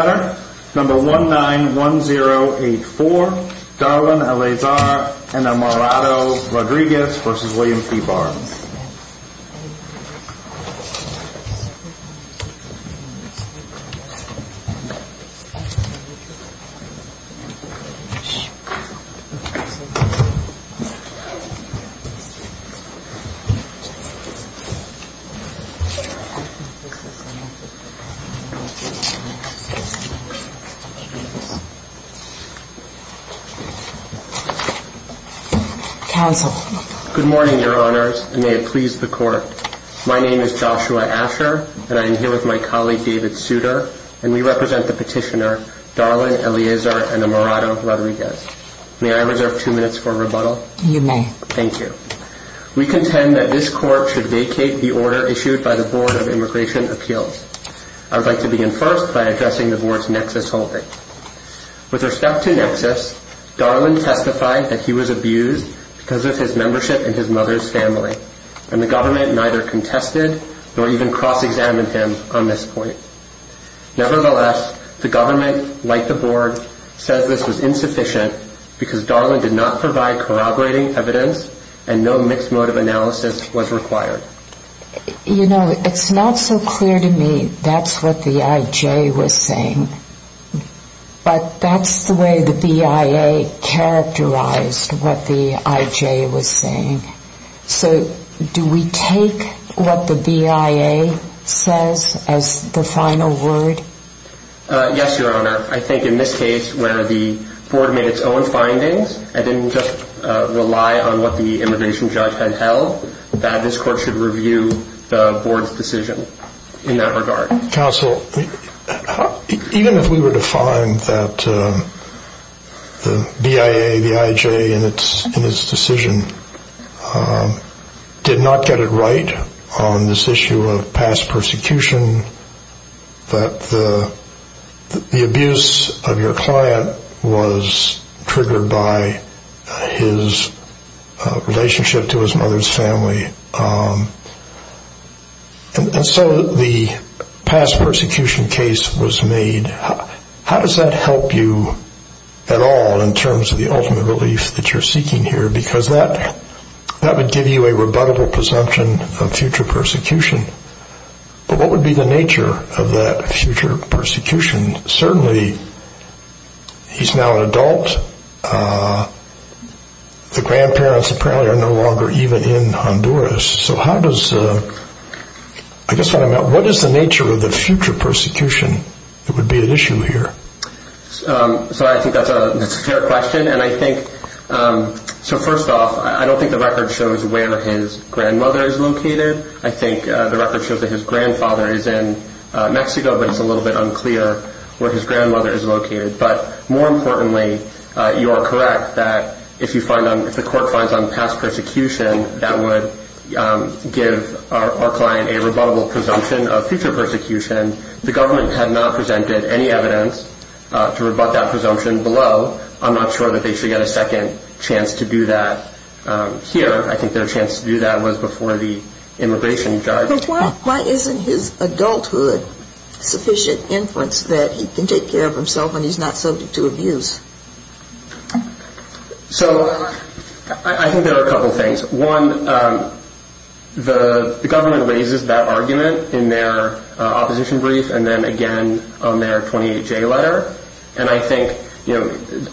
191084 Darlan Eleazar, Enamorado-Rodriguez v. Williams v. Barr May I reserve two minutes for rebuttal? You may. Thank you. We contend that this court should vacate the order issued by the Board of Immigration Appeals. I would like to begin first by addressing the Board's nexus holding. With respect to nexus, Darlan testified that he was abused because of his membership in his mother's family, and the government neither contested nor even cross-examined him on this point. Nevertheless, the government, like the Board, says this was insufficient because Darlan did not provide corroborating evidence and no mixed motive analysis was required. You know, it's not so clear to me that's what the I.J. was saying, but that's the way the B.I.A. characterized what the I.J. was saying. So do we take what the B.I.A. says as the final word? Yes, Your Honor. I think in this case where the Board made its own findings and didn't just rely on what the immigration judge had held, that this court should review the Board's decision in that regard. Counsel, even if we were to find that the B.I.A., the I.J. in its decision did not get it right on this issue of past persecution, that the abuse of your client was triggered by his relationship to his mother's family, and so the past persecution case was made, how does that help you at all in terms of the ultimate relief that you're seeking here? Because that would give you a rebuttable presumption of future persecution. But what is the nature of the future persecution that would be at issue here? So first off, I don't think the record shows where his grandmother is located. I think the record shows that his grandfather is in Mexico, but it's a little bit unclear where his grandmother is located. But more importantly, you are correct that if the court finds on past persecution, that would give our client a rebuttable presumption of future persecution. The government had not presented any evidence to rebut that presumption below. I'm not sure that they should get a second chance to do that here. I think their chance to do that was before the immigration judge. But why isn't his adulthood sufficient inference that he can take care of himself when he's not subject to abuse? So I think there are a couple of things. One, the government raises that argument in their opposition brief and then again on their 28-J letter. And I think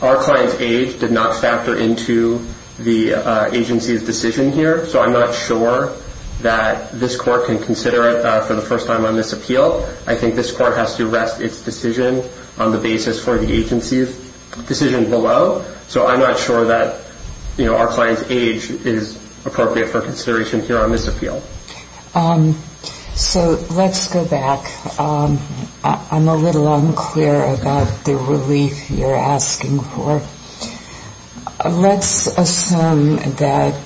our client's age did not factor into the agency's decision here, so I'm not sure that this court can consider it for the first time on this appeal. I think this court has to rest its decision on the basis for the agency's decision below, so I'm not sure that our client's age is appropriate for consideration here on this appeal. So let's go back. I'm a little unclear about the relief you're asking for. Let's assume that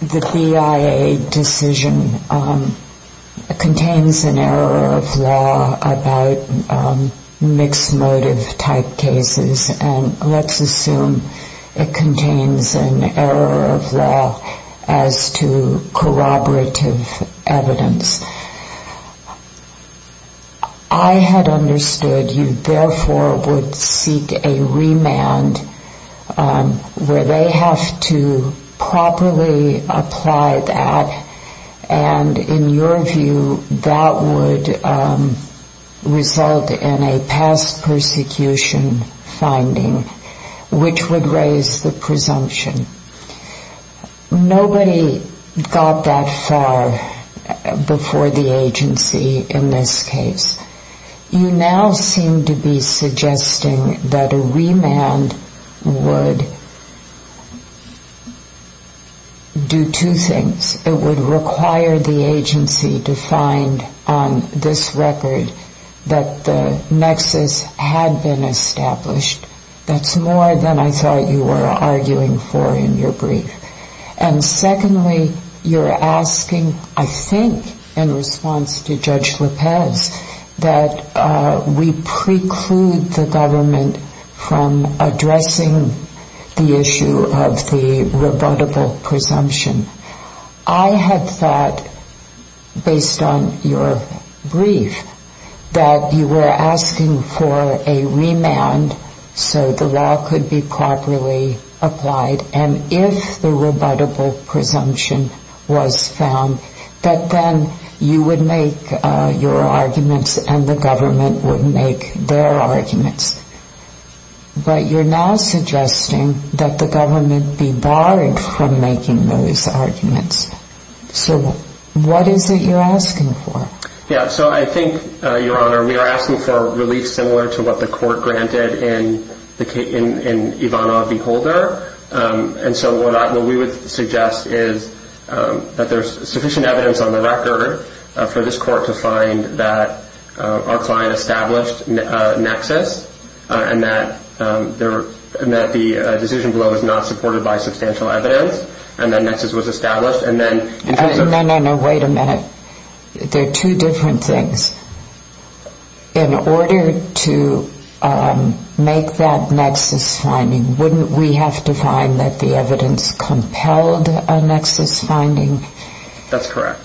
the BIA decision contains an error of law about mixed motive type cases and let's assume it contains an error of law as to corroborative evidence. I had understood you therefore would seek a remand where they have to properly apply that and in your view that would result in a past persecution finding which would raise the presumption. Nobody got that far before the agency in this case. You now seem to be suggesting that agency to find on this record that the nexus had been established. That's more than I thought you were arguing for in your brief. And secondly, you're asking I think in response to Judge Lopez that we preclude the government from addressing the issue of the rebuttable presumption. I had thought based on your brief that you were asking for a remand so the law could be properly applied and if the rebuttable presumption was found that then you would make your arguments and the government would make their arguments. But you're now suggesting that the government be able to make their arguments. So what is it you're asking for? Yeah, so I think, Your Honor, we are asking for relief similar to what the court granted in Ivanov v. Holder and so what we would suggest is that there's sufficient evidence on the record for this court to find that our client established a nexus and that the decision below is not supported by substantial evidence and that the nexus was established. No, no, no, wait a minute. There are two different things. In order to make that nexus finding, wouldn't we have to find that the evidence compelled a nexus finding? That's correct.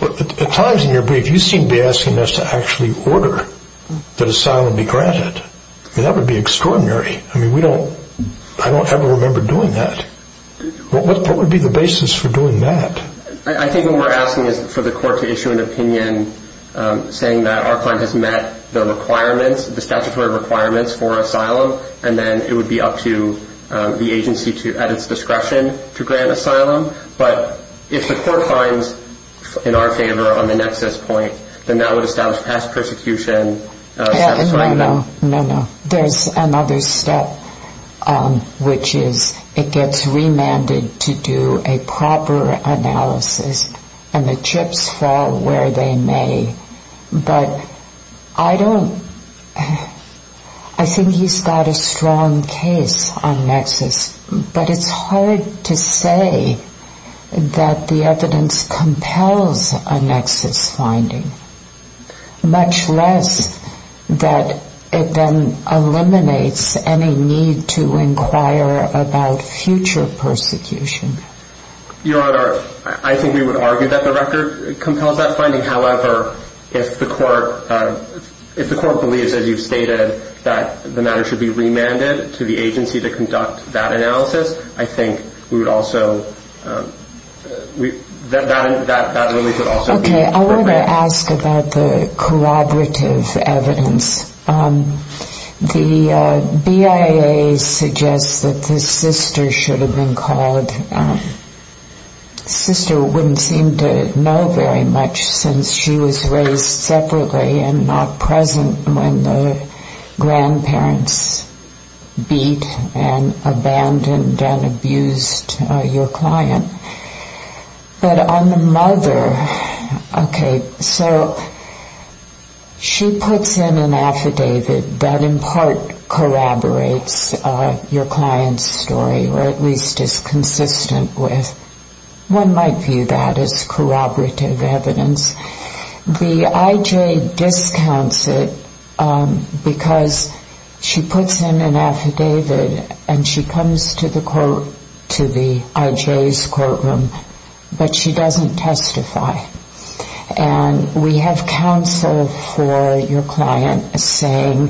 At times in your brief, you seem to be asking us to actually order the asylum be granted. That would be extraordinary. I mean, I don't ever remember doing that. What would be the basis for doing that? I think what we're asking is for the court to issue an opinion saying that our client has met the statutory requirements for asylum and then it would be up to the agency at its discretion to grant asylum. But if the court finds in our favor on the nexus point, then that would establish past persecution. No, no, no, no. There's another step, which is it gets remanded to do a proper analysis and the chips fall where they may. But I don't, I think he's got a strong case on nexus, but it's hard to say that the evidence compels a nexus finding, much less that it then eliminates any need to inquire about future persecution. Your Honor, I think we would argue that the record compels that finding. However, if the court, if the court believes, as you've stated, that the matter should be remanded to the agency to conduct that analysis, I think we would also, that really could also... Okay, I want to ask about the collaborative evidence. The BIA suggests that the sister should have been called. Sister wouldn't seem to know very much since she was raised separately and not present when the grandparents beat and abandoned and abused your client. But on the mother, okay, so she puts in an affidavit that in part corroborates your client's story, or at least is consistent with, one might view that as corroborative evidence. The IJ discounts it because she puts in an affidavit and she comes to the court, to the IJ's courtroom, but she doesn't testify. And we have counsel for your client saying,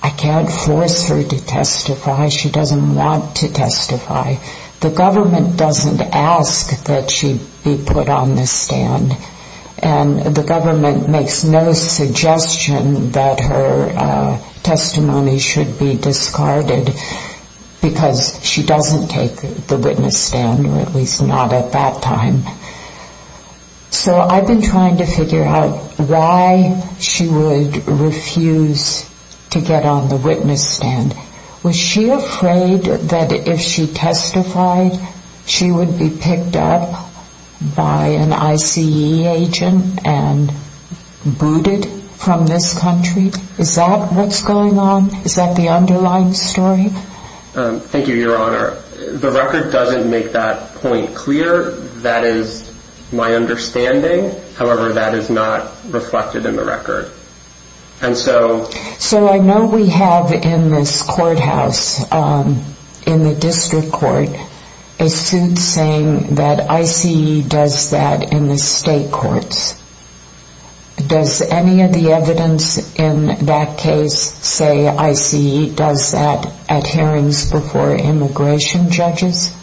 I can't force her to testify. She doesn't want to testify. The government doesn't ask that she be put on the stand. And the government makes no suggestion that her testimony should be discarded because she doesn't take the witness stand, or at least not at that time. So I've been trying to figure out why she would refuse to get on the witness stand. Was she afraid that if she testified, she would be picked up by an ICE agent and booted from this country? Is that what's going on? Is that the underlying story? Thank you, Your Honor. The record doesn't make that point clear. That is my understanding. However, that is not reflected in the record. So I know we have in this courthouse, in the district court, a suit saying that ICE does that in the state courts. Does any of the evidence in that case say ICE does that at hearings before immigration judges?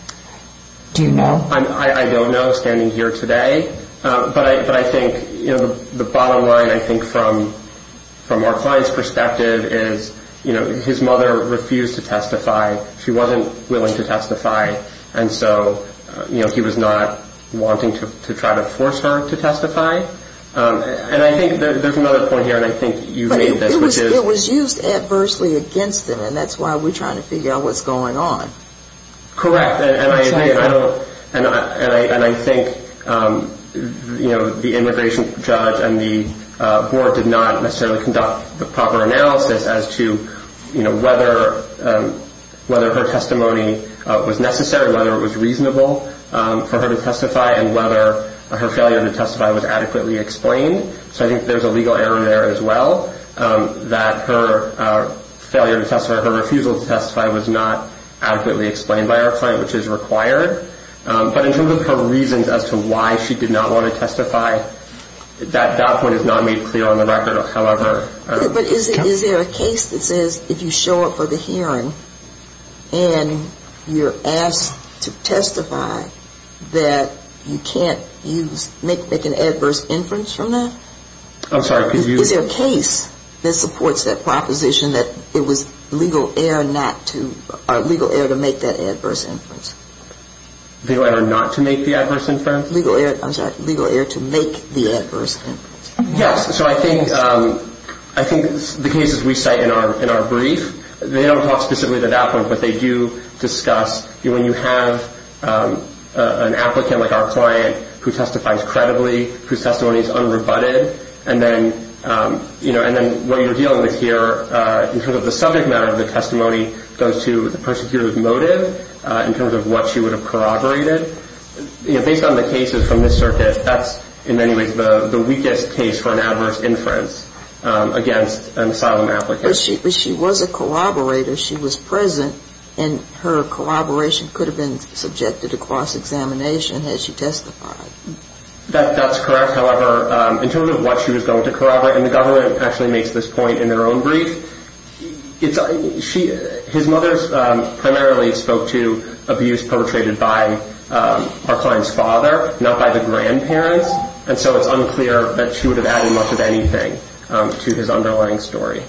Do you know? I don't know standing here today. But I think the bottom line, I think, from our client's perspective is his mother refused to testify. She wasn't willing to testify. And so he was not wanting to try to force her to testify. And I think there's another point here, and I think you made this. It was used adversely against him, and that's why we're trying to figure out what's going on. Correct. And I think the immigration judge and the board did not necessarily conduct the proper analysis as to whether her testimony was necessary, whether it was reasonable for her to testify, and whether her failure to testify was adequately explained. So I think there's a legal error there as well, that her refusal to testify was not adequately explained by our client, which is required. But in terms of her reasons as to why she did not want to testify, that point is not made clear on the record, however. But is there a case that says if you show up for the hearing and you're asked to testify, that you can't make an adverse inference from that? I'm sorry, could you? Is there a case that supports that proposition that it was legal error to make that adverse inference? Legal error not to make the adverse inference? I'm sorry, legal error to make the adverse inference. Yes. So I think the cases we cite in our brief, they don't talk specifically to that point, but they do discuss when you have an applicant like our client who testifies credibly, whose testimony is unrebutted, and then what you're dealing with here in terms of the subject matter of the testimony goes to the persecutor's motive in terms of what she would have corroborated. Based on the cases from this circuit, that's in many ways the weakest case for an adverse inference against an asylum applicant. But she was a collaborator. She was present, and her collaboration could have been subjected to cross-examination had she testified. That's correct. However, in terms of what she was going to corroborate, and the government actually makes this point in their own brief, his mother primarily spoke to abuse perpetrated by our client's father, not by the grandparents, and so it's unclear that she would have added much of anything to his underlying story.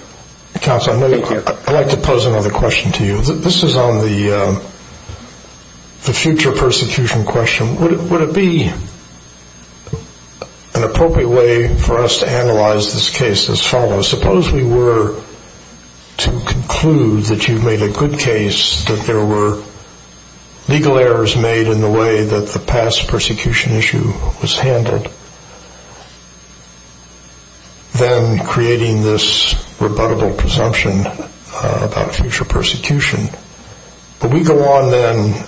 Counselor, I'd like to pose another question to you. This is on the future persecution question. Would it be an appropriate way for us to analyze this case as follows? Suppose we were to conclude that you've made a good case, that there were legal errors made in the way that the past persecution issue was handled, then creating this rebuttable presumption about future persecution. But we go on then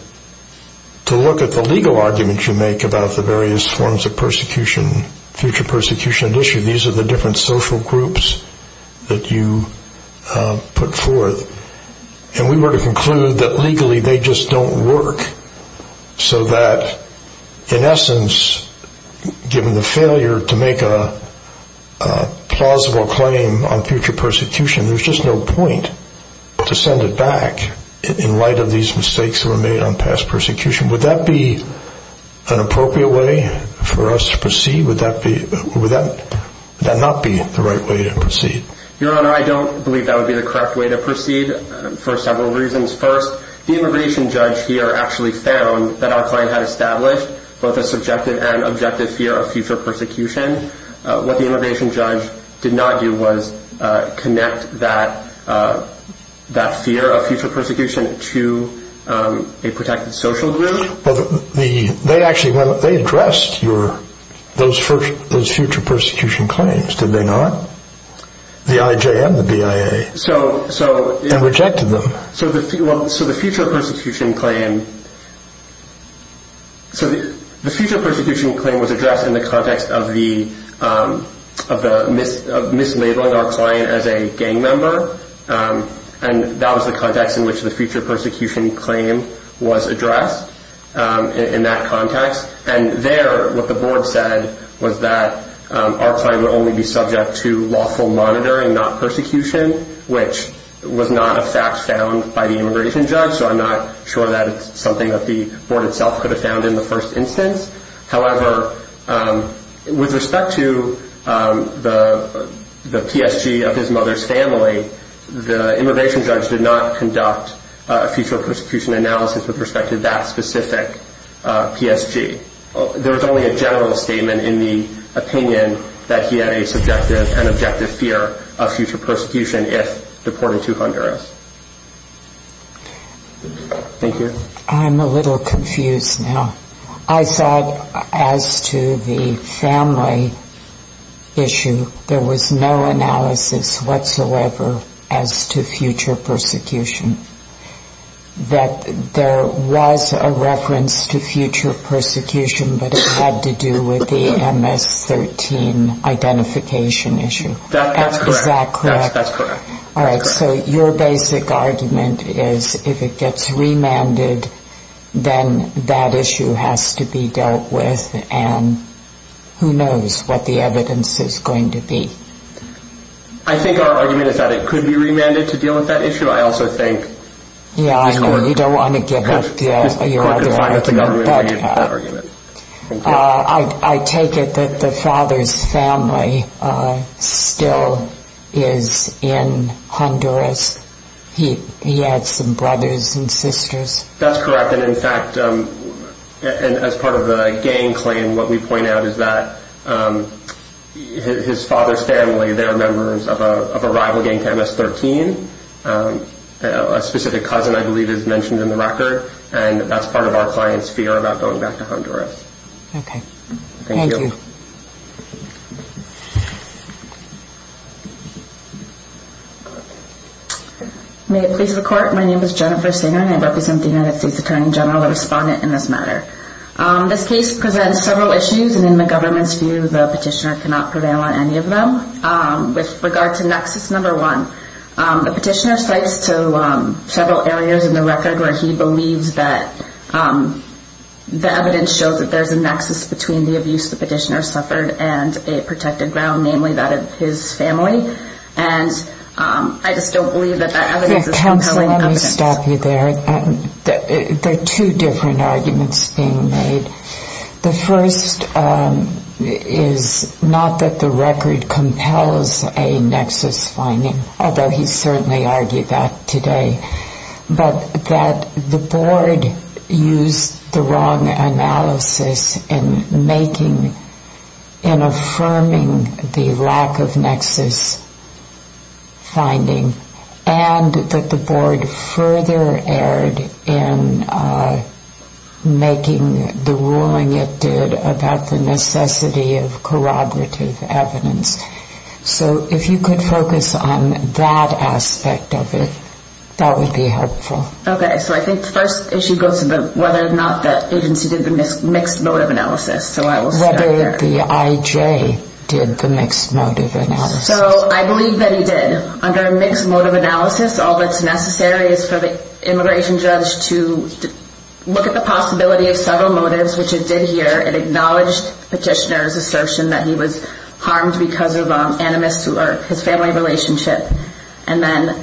to look at the legal arguments you make about the various forms of persecution, future persecution issue. These are the different social groups that you put forth, and we were to conclude that legally they just don't work, so that in essence, given the failure to make a plausible claim on future persecution, there's just no point to send it back in light of these mistakes that were made on past persecution. Would that be an appropriate way for us to proceed? Would that not be the right way to proceed? Your Honor, I don't believe that would be the correct way to proceed for several reasons. First, the immigration judge here actually found that our client had established both a subjective and objective fear of future persecution. What the immigration judge did not do was connect that fear of future persecution to a protected social group. They addressed those future persecution claims, did they not? The IJM, the BIA, and rejected them. So the future persecution claim was addressed in the context of mislabeling our client as a gang member, and that was the context in which the future persecution claim was addressed in that context. And there, what the board said was that our client would only be subject to lawful monitoring, not persecution, which was not a fact found by the immigration judge, so I'm not sure that it's something that the board itself could have found in the first instance. However, with respect to the PSG of his mother's family, the immigration judge did not conduct a future persecution analysis with respect to that specific PSG. There was only a general statement in the opinion that he had a subjective and objective fear of future persecution if deported to Honduras. Thank you. I'm a little confused now. I thought as to the family issue, there was no analysis whatsoever as to future persecution. That there was a reference to future persecution, but it had to do with the MS-13 identification issue. Is that correct? That's correct. All right. So your basic argument is if it gets remanded, then that issue has to be dealt with, and who knows what the evidence is going to be. I think our argument is that it could be remanded to deal with that issue. I also think... Yeah, I know. You don't want to give up your argument, but I take it that the father's family still is in Honduras. He had some brothers and sisters. That's correct, and in fact, as part of the gang claim, what we point out is that his father's family, they're members of a rival gang to MS-13. A specific cousin, I believe, is mentioned in the record, and that's part of our client's fear about going back to Honduras. Okay. Thank you. Okay. May it please the court. My name is Jennifer Singer, and I represent the United States Attorney General, the respondent in this matter. This case presents several issues, and in the government's view, the petitioner cannot prevail on any of them. With regard to nexus number one, the petitioner cites several areas in the record where he believes that the evidence shows that there's a nexus between the abuse the petitioner suffered and a protected ground, namely that of his family. I just don't believe that that evidence is compelling evidence. Counselor, let me stop you there. There are two different arguments being made. The first is not that the record compels a nexus finding, although he certainly argued that today, but that the board used the wrong analysis in affirming the lack of nexus finding, and that the board further erred in making the ruling it did about the necessity of corroborative evidence. So if you could focus on that aspect of it, that would be helpful. Okay. So I think the first issue goes to whether or not the agency did the mixed motive analysis. So I will start there. Whether the IJ did the mixed motive analysis. So I believe that he did. Under a mixed motive analysis, all that's necessary is for the immigration judge to look at the possibility of several motives, which it did here. It acknowledged petitioner's assertion that he was harmed because of animus to his family relationship. And then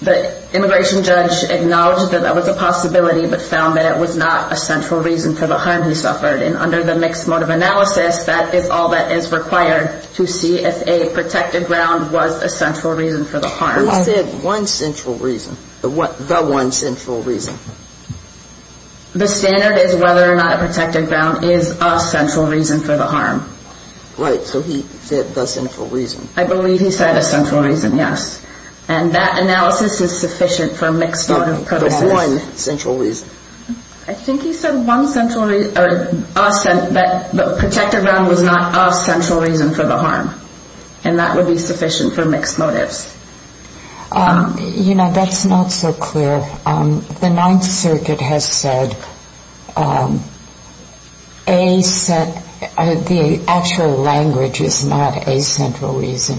the immigration judge acknowledged that that was a possibility, but found that it was not a central reason for the harm he suffered. And under the mixed motive analysis, that is all that is required to see if a protected ground was a central reason for the harm. You said one central reason, the one central reason. The standard is whether or not a protected ground is a central reason for the harm. Right. So he said the central reason. I believe he said a central reason. Yes. And that analysis is sufficient for mixed motive analysis. The one central reason. I think he said one central reason, but the protected ground was not a central reason for the harm. And that would be sufficient for mixed motives. You know, that's not so clear. The Ninth Circuit has said the actual language is not a central reason.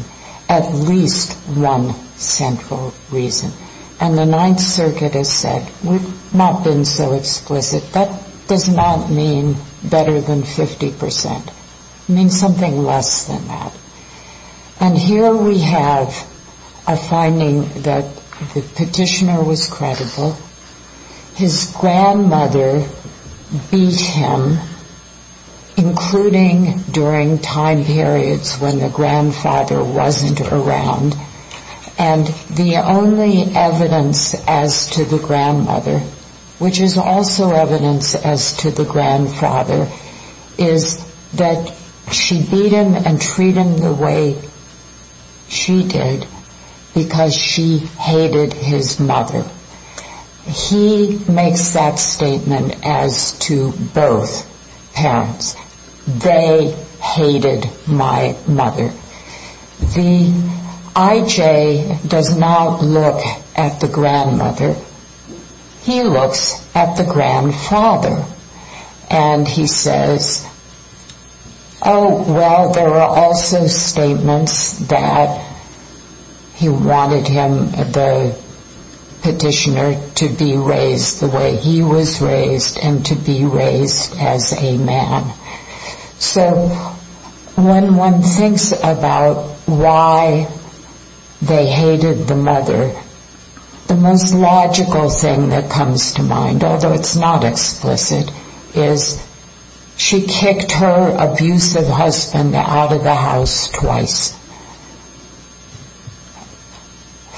At least one central reason. And the Ninth Circuit has said we've not been so explicit. That does not mean better than 50 percent. It means something less than that. And here we have a finding that the petitioner was credible. His grandmother beat him, including during time periods when the grandfather wasn't around. And the only evidence as to the grandmother, which is also evidence as to the grandfather, is that she beat him and treat him the way she did because she hated his mother. He makes that statement as to both parents. They hated my mother. The I.J. does not look at the grandmother. He looks at the grandfather. And he says, oh, well, there are also statements that he wanted him, the petitioner, to be raised the way he was raised and to be raised as a man. So when one thinks about why they hated the mother, the most logical thing that comes to mind, although it's not explicit, is she kicked her abusive husband out of the house twice.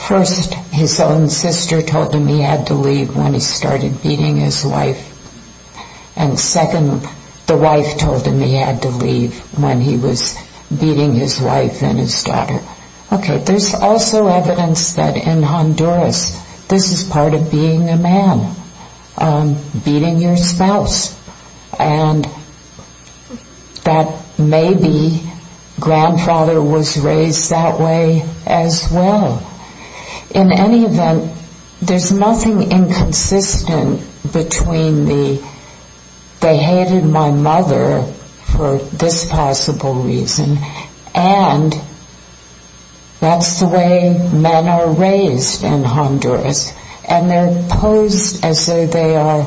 First, his own sister told him he had to leave when he started beating his wife. And second, the wife told him he had to leave when he was beating his wife and his daughter. Okay, there's also evidence that in Honduras, this is part of being a man, beating your spouse, and that maybe grandfather was raised that way as well. In any event, there's nothing inconsistent between the they hated my mother for this possible reason and that's the way men are raised in Honduras. And they're posed as though they are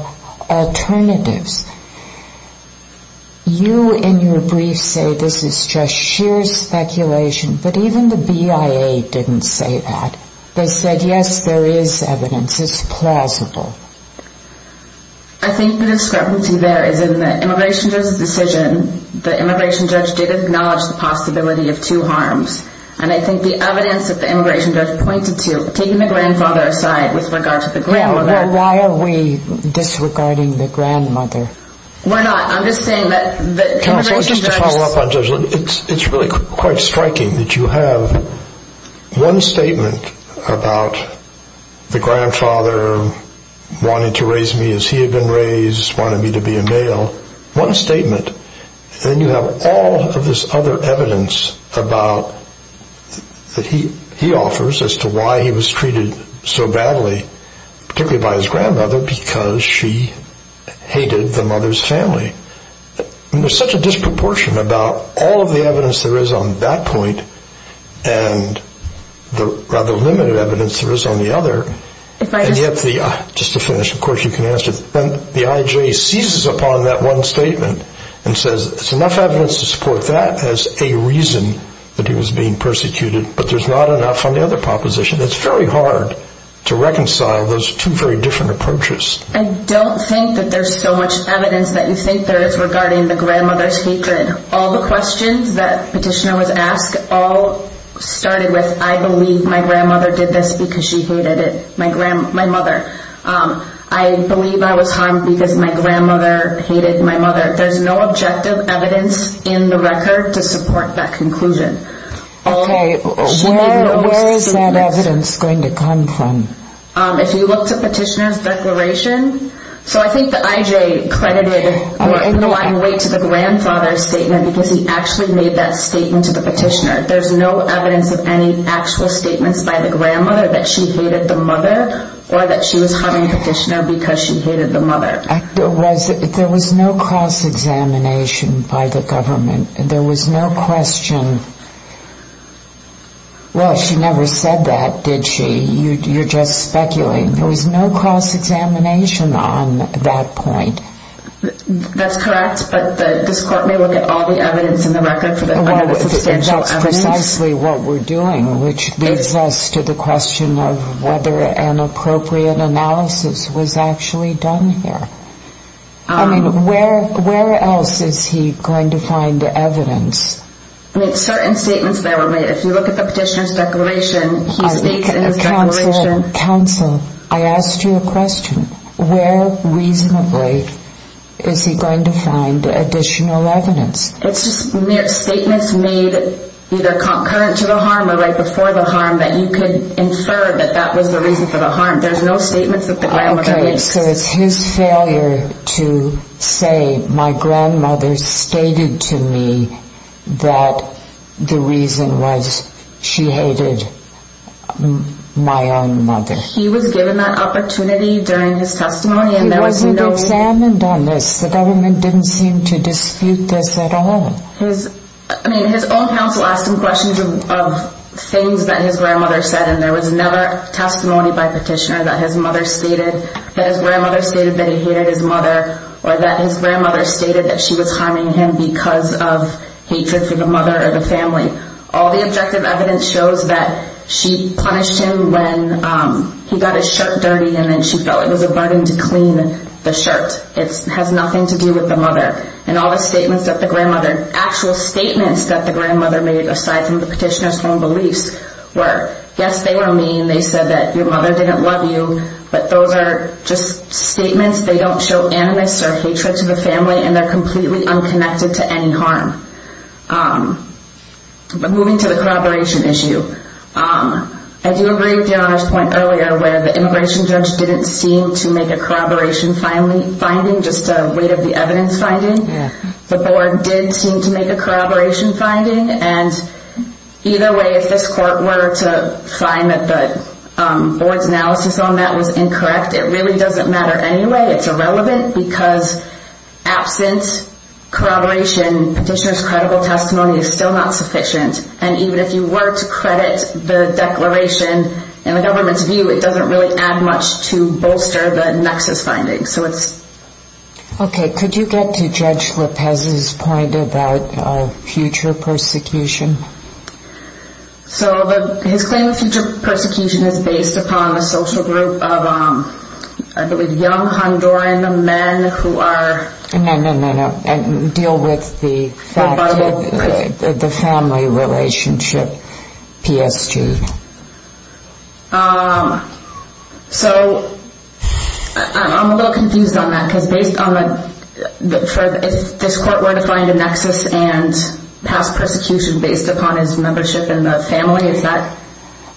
alternatives. You, in your brief, say this is just sheer speculation, but even the BIA didn't say that. They said, yes, there is evidence. It's plausible. I think the discrepancy there is in the immigration judge's decision. The immigration judge did acknowledge the possibility of two harms. And I think the evidence that the immigration judge pointed to, taking the grandfather aside with regard to the grandmother... Why are we disregarding the grandmother? Why not? I'm just saying that the immigration judge... Just to follow up on Judge, it's really quite striking that you have one statement about the grandfather wanting to raise me as he had been raised, wanting me to be a male. One statement, then you have all of this other evidence that he offers as to why he was treated so badly, particularly by his grandmother, because she hated the mother's family. There's such a disproportion about all of the evidence there is on that point and the rather limited evidence there is on the other. And yet, just to finish, of course, you can answer. Then the IJ seizes upon that one statement and says, there's enough evidence to support that as a reason that he was being persecuted, but there's not enough on the other proposition. It's very hard to reconcile those two very different approaches. I don't think that there's so much evidence that you think there is regarding the grandmother's hatred. All the questions that petitioner was asked all started with, I believe my grandmother did this because she hated my mother. I believe I was harmed because my grandmother hated my mother. There's no objective evidence in the record to support that conclusion. Okay, where is that evidence going to come from? If you look to petitioner's declaration, so I think the IJ credited the grandfather's statement because he actually made that statement to the petitioner. There's no evidence of any actual statements by the grandmother that she hated the mother or that she was having petitioner because she hated the mother. There was no cross-examination by the government. There was no question. Well, she never said that, did she? You're just speculating. There was no cross-examination on that point. That's correct, but this court may look at all the evidence in the record. And that's precisely what we're doing, which leads us to the question of whether an appropriate analysis was actually done here. I mean, where else is he going to find evidence? Certain statements that were made. If you look at the petitioner's declaration, he states in his declaration. Counsel, I asked you a question. Where reasonably is he going to find additional evidence? It's just mere statements made either concurrent to the harm or right before the harm that you could infer that that was the reason for the harm. There's no statements that the grandmother makes. So it's his failure to say my grandmother stated to me that the reason was she hated my own mother. He was given that opportunity during his testimony. It wasn't examined on this. The government didn't seem to dispute this at all. I mean, his own counsel asked him questions of things that his grandmother said, and there was never testimony by petitioner that his mother stated that his grandmother stated that he hated his mother or that his grandmother stated that she was harming him because of hatred for the mother or the family. All the objective evidence shows that she punished him when he got his shirt dirty, and then she felt it was a burden to clean the shirt. It has nothing to do with the mother. And all the statements that the grandmother, actual statements that the grandmother made aside from the petitioner's own beliefs were, yes, they were mean. They said that your mother didn't love you. But those are just statements. They don't show animus or hatred to the family, and they're completely unconnected to any harm. But moving to the corroboration issue. I do agree with your point earlier where the immigration judge didn't seem to make a corroboration finding, just a weight of the evidence finding. The board did seem to make a corroboration finding. And either way, if this court were to find that the board's analysis on that was incorrect, it really doesn't matter anyway. It's irrelevant because absence, corroboration, petitioner's credible testimony is still not the declaration. In the government's view, it doesn't really add much to bolster the nexus finding. Okay. Could you get to Judge Lopez's point about future persecution? So his claim of future persecution is based upon a social group of, I believe, young Honduran men who are... No, no, no, no. Deal with the family relationship PSG. So I'm a little confused on that because based on the... If this court were to find a nexus and pass persecution based upon his membership in the family, is that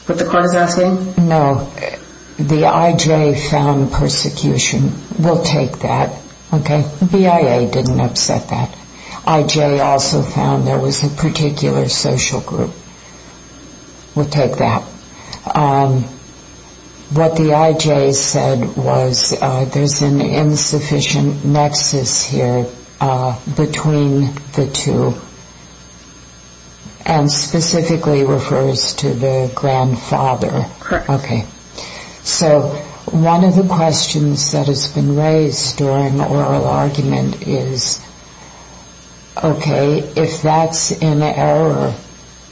what the court is asking? No. The IJ found persecution. We'll take that. Okay. BIA didn't upset that. IJ also found there was a particular social group. We'll take that. What the IJ said was there's an insufficient nexus here between the two and specifically refers to the grandfather. Okay. So one of the questions that has been raised during the oral argument is, okay, if that's an error,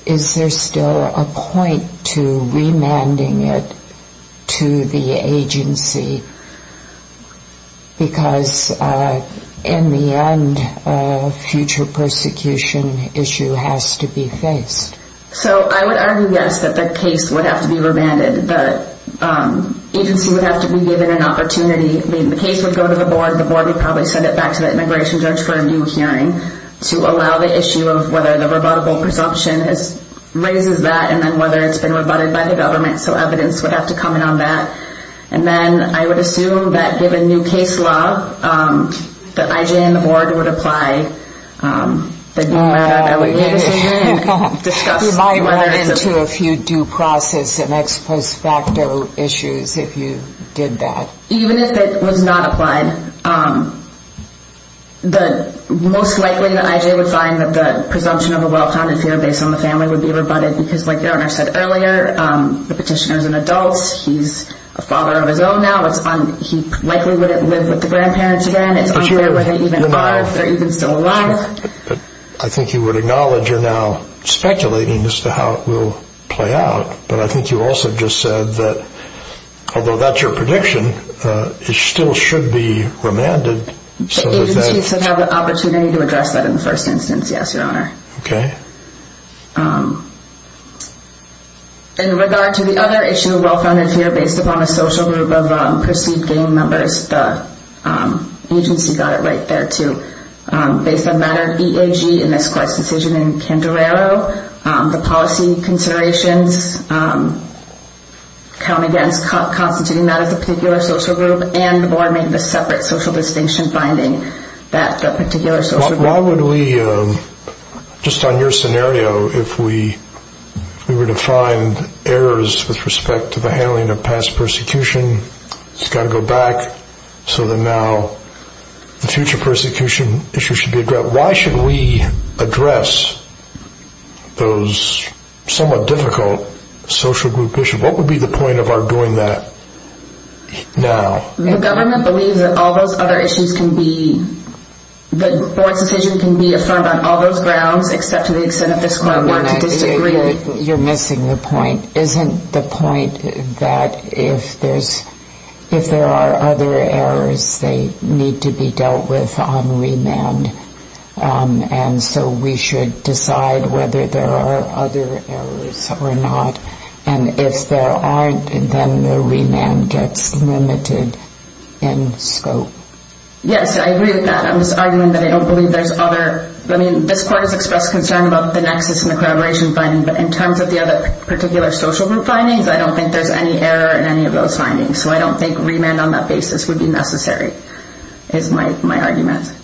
is there still a point to remanding it to the agency? Because in the end, future persecution issue has to be faced. So I would argue, yes, that the case would have to be remanded. The agency would have to be given an opportunity. Maybe the case would go to the board. The board would probably send it back to the immigration judge for a new hearing to allow the issue of whether the rebuttable presumption raises that and then whether it's been rebutted by the government. So evidence would have to come in on that. And then I would assume that given new case law, the IJ and the board would apply the remand into a few due process and ex post facto issues if you did that. Even if it was not applied, the most likely the IJ would find that the presumption of a well-founded fear based on the family would be rebutted because like the owner said earlier, the petitioner is an adult. He's a father of his own now. He likely wouldn't live with the grandparents again. It's unfair if they even are, if they're even still alive. I think you would acknowledge you're now speculating as to how it will play out. But I think you also just said that although that's your prediction, it still should be remanded. The agency should have the opportunity to address that in the first instance. Yes, your honor. Okay. In regard to the other issue of well-founded fear based upon a social group of perceived gang members, the agency got it right there too. Based on the matter of EAG in this court's decision in Candelaro, the policy considerations come against constituting that as a particular social group and forming a separate social distinction finding that the particular social group... Why would we, just on your scenario, if we were to find errors with respect to the handling of past persecution, it's got to go back so that now the future persecution issue should be addressed. Why should we address those somewhat difficult social group issues? What would be the point of our doing that now? The government believes that all those other issues can be, the board's decision can be affirmed on all those grounds except to the extent that this court wanted to disagree. You're missing the point. Isn't the point that if there's, if there are other errors, they need to be dealt with on remand and so we should decide whether there are other errors or not. And if there aren't, then the remand gets limited in scope. Yes, I agree with that. I'm just arguing that I don't believe there's other, I mean, this court has expressed concern about the nexus and the collaboration finding, but in terms of the other particular social group findings, I don't think there's any error in any of those findings. So I don't think remand on that basis would be necessary, is my argument.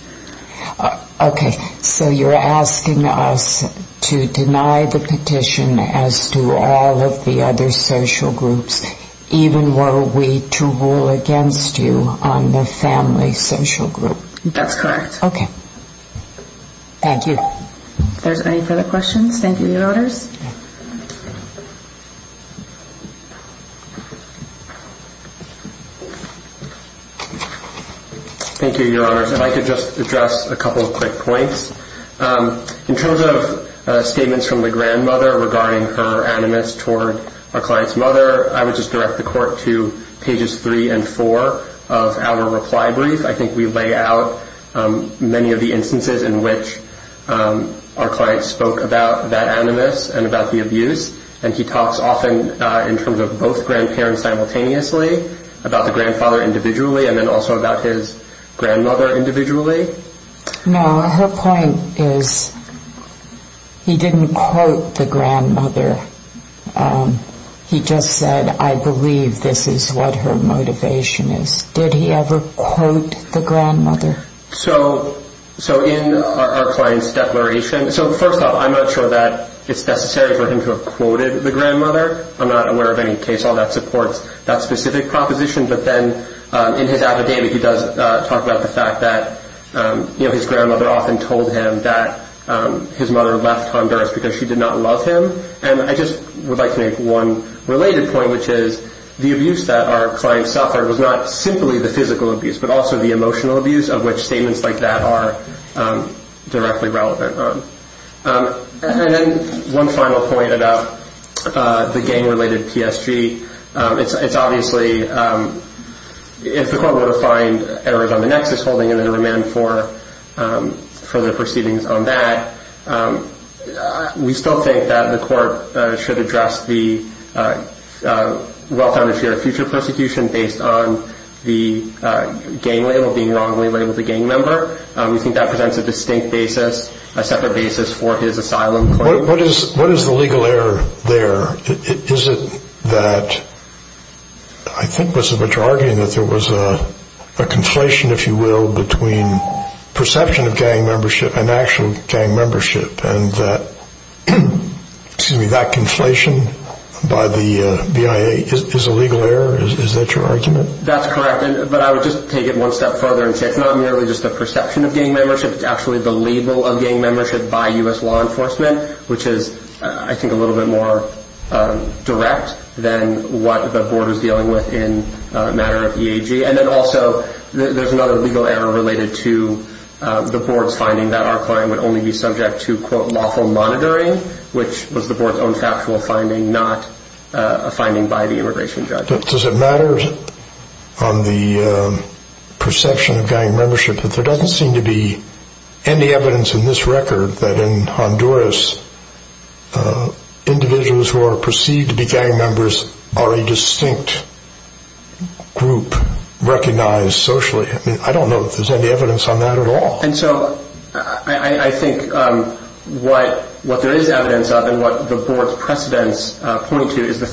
Okay. So you're asking us to deny the petition as to all of the other social groups, even were we to rule against you on the family social group? That's correct. Okay. Thank you. If there's any further questions, thank you, Your Honors. Thank you, Your Honors. If I could just address a couple of quick points. In terms of statements from the grandmother regarding her animus toward our client's mother, I would just direct the court to pages three and four of our reply brief. I think we lay out many of the instances in which our client spoke about that animus and about the abuse, and he talks often in terms of both grandparents simultaneously about the grandfather individually and then also about his grandmother individually. No, her point is he didn't quote the grandmother. He just said, I believe this is what her motivation is. Did he ever quote the grandmother? So in our client's declaration, so first off, I'm not sure that it's necessary for him to have quoted the grandmother. I'm not aware of any case where that supports that specific proposition. But then in his affidavit, he does talk about the fact that his grandmother often told him that his mother left Honduras because she did not love him. And I just would like to make one related point, which is the abuse that our client suffered was not simply the physical abuse, but also the emotional abuse of which statements like that are directly relevant. And then one final point about the gang-related PSG, it's obviously, if the court were to find errors on the nexus holding and then remand for further proceedings on that, we think that presents a distinct basis, a separate basis for his asylum claim. What is the legal error there? Is it that, I think what you're arguing is that there was a conflation, if you will, between perception of gang membership and actual gang membership and that conflation by the BIA is a legal error? Is that your argument? That's correct. But I would just take it one step further and say it's not merely just the perception of gang membership. It's actually the label of gang membership by U.S. law enforcement, which is, I think, a little bit more direct than what the board is dealing with in a matter of EAG. And then also, there's another legal error related to the board's finding that our client would only be subject to, quote, lawful monitoring, which was the board's own factual finding, not a finding by the immigration judge. Does it matter on the perception of gang membership that there doesn't seem to be any evidence in this record that in Honduras, individuals who are perceived to be gang members are a distinct group recognized socially? I mean, I don't know if there's any evidence on that at all. And so I think what there is evidence of and what the board's precedents point to is the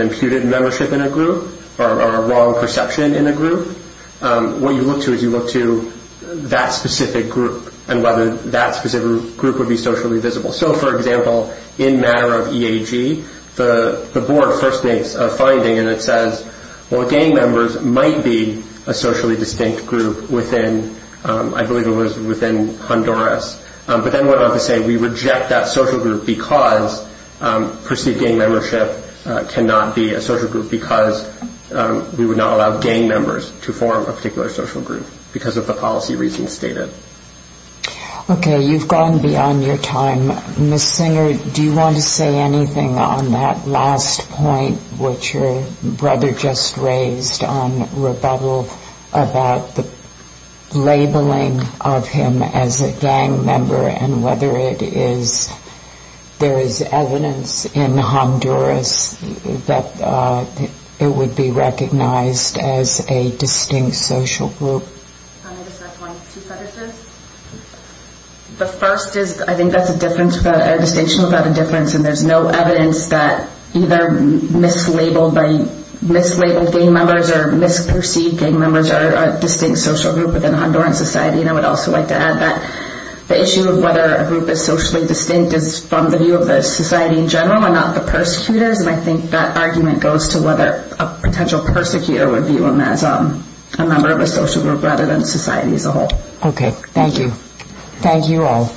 imputed membership in a group or a wrong perception in a group. What you look to is you look to that specific group and whether that specific group would be socially visible. So for example, in a matter of EAG, the board first makes a finding and it says, well, gang members might be a socially distinct group within, I believe it was within Honduras. But then what about to say we reject that social group because perceived gang membership cannot be a social group because we would not allow gang members to form a particular social group because of the policy reasons stated. Okay, you've gone beyond your time. Ms. Singer, do you want to say anything on that last point which your brother just raised on rebuttal about the labeling of him as a gang member and whether it is there is evidence in Honduras that it would be recognized as a distinct social group? The first is I think that's a distinction without a difference and there's no evidence that either mislabeled gang members or misperceived gang members are a distinct social group within Honduran society and I would also like to add that the issue of whether a group is socially distinct is from the view of the society in general and not the persecutors and I think that argument goes to whether a potential persecutor would view them as a member of a social group rather than society as a whole. Okay, thank you. Thank you all.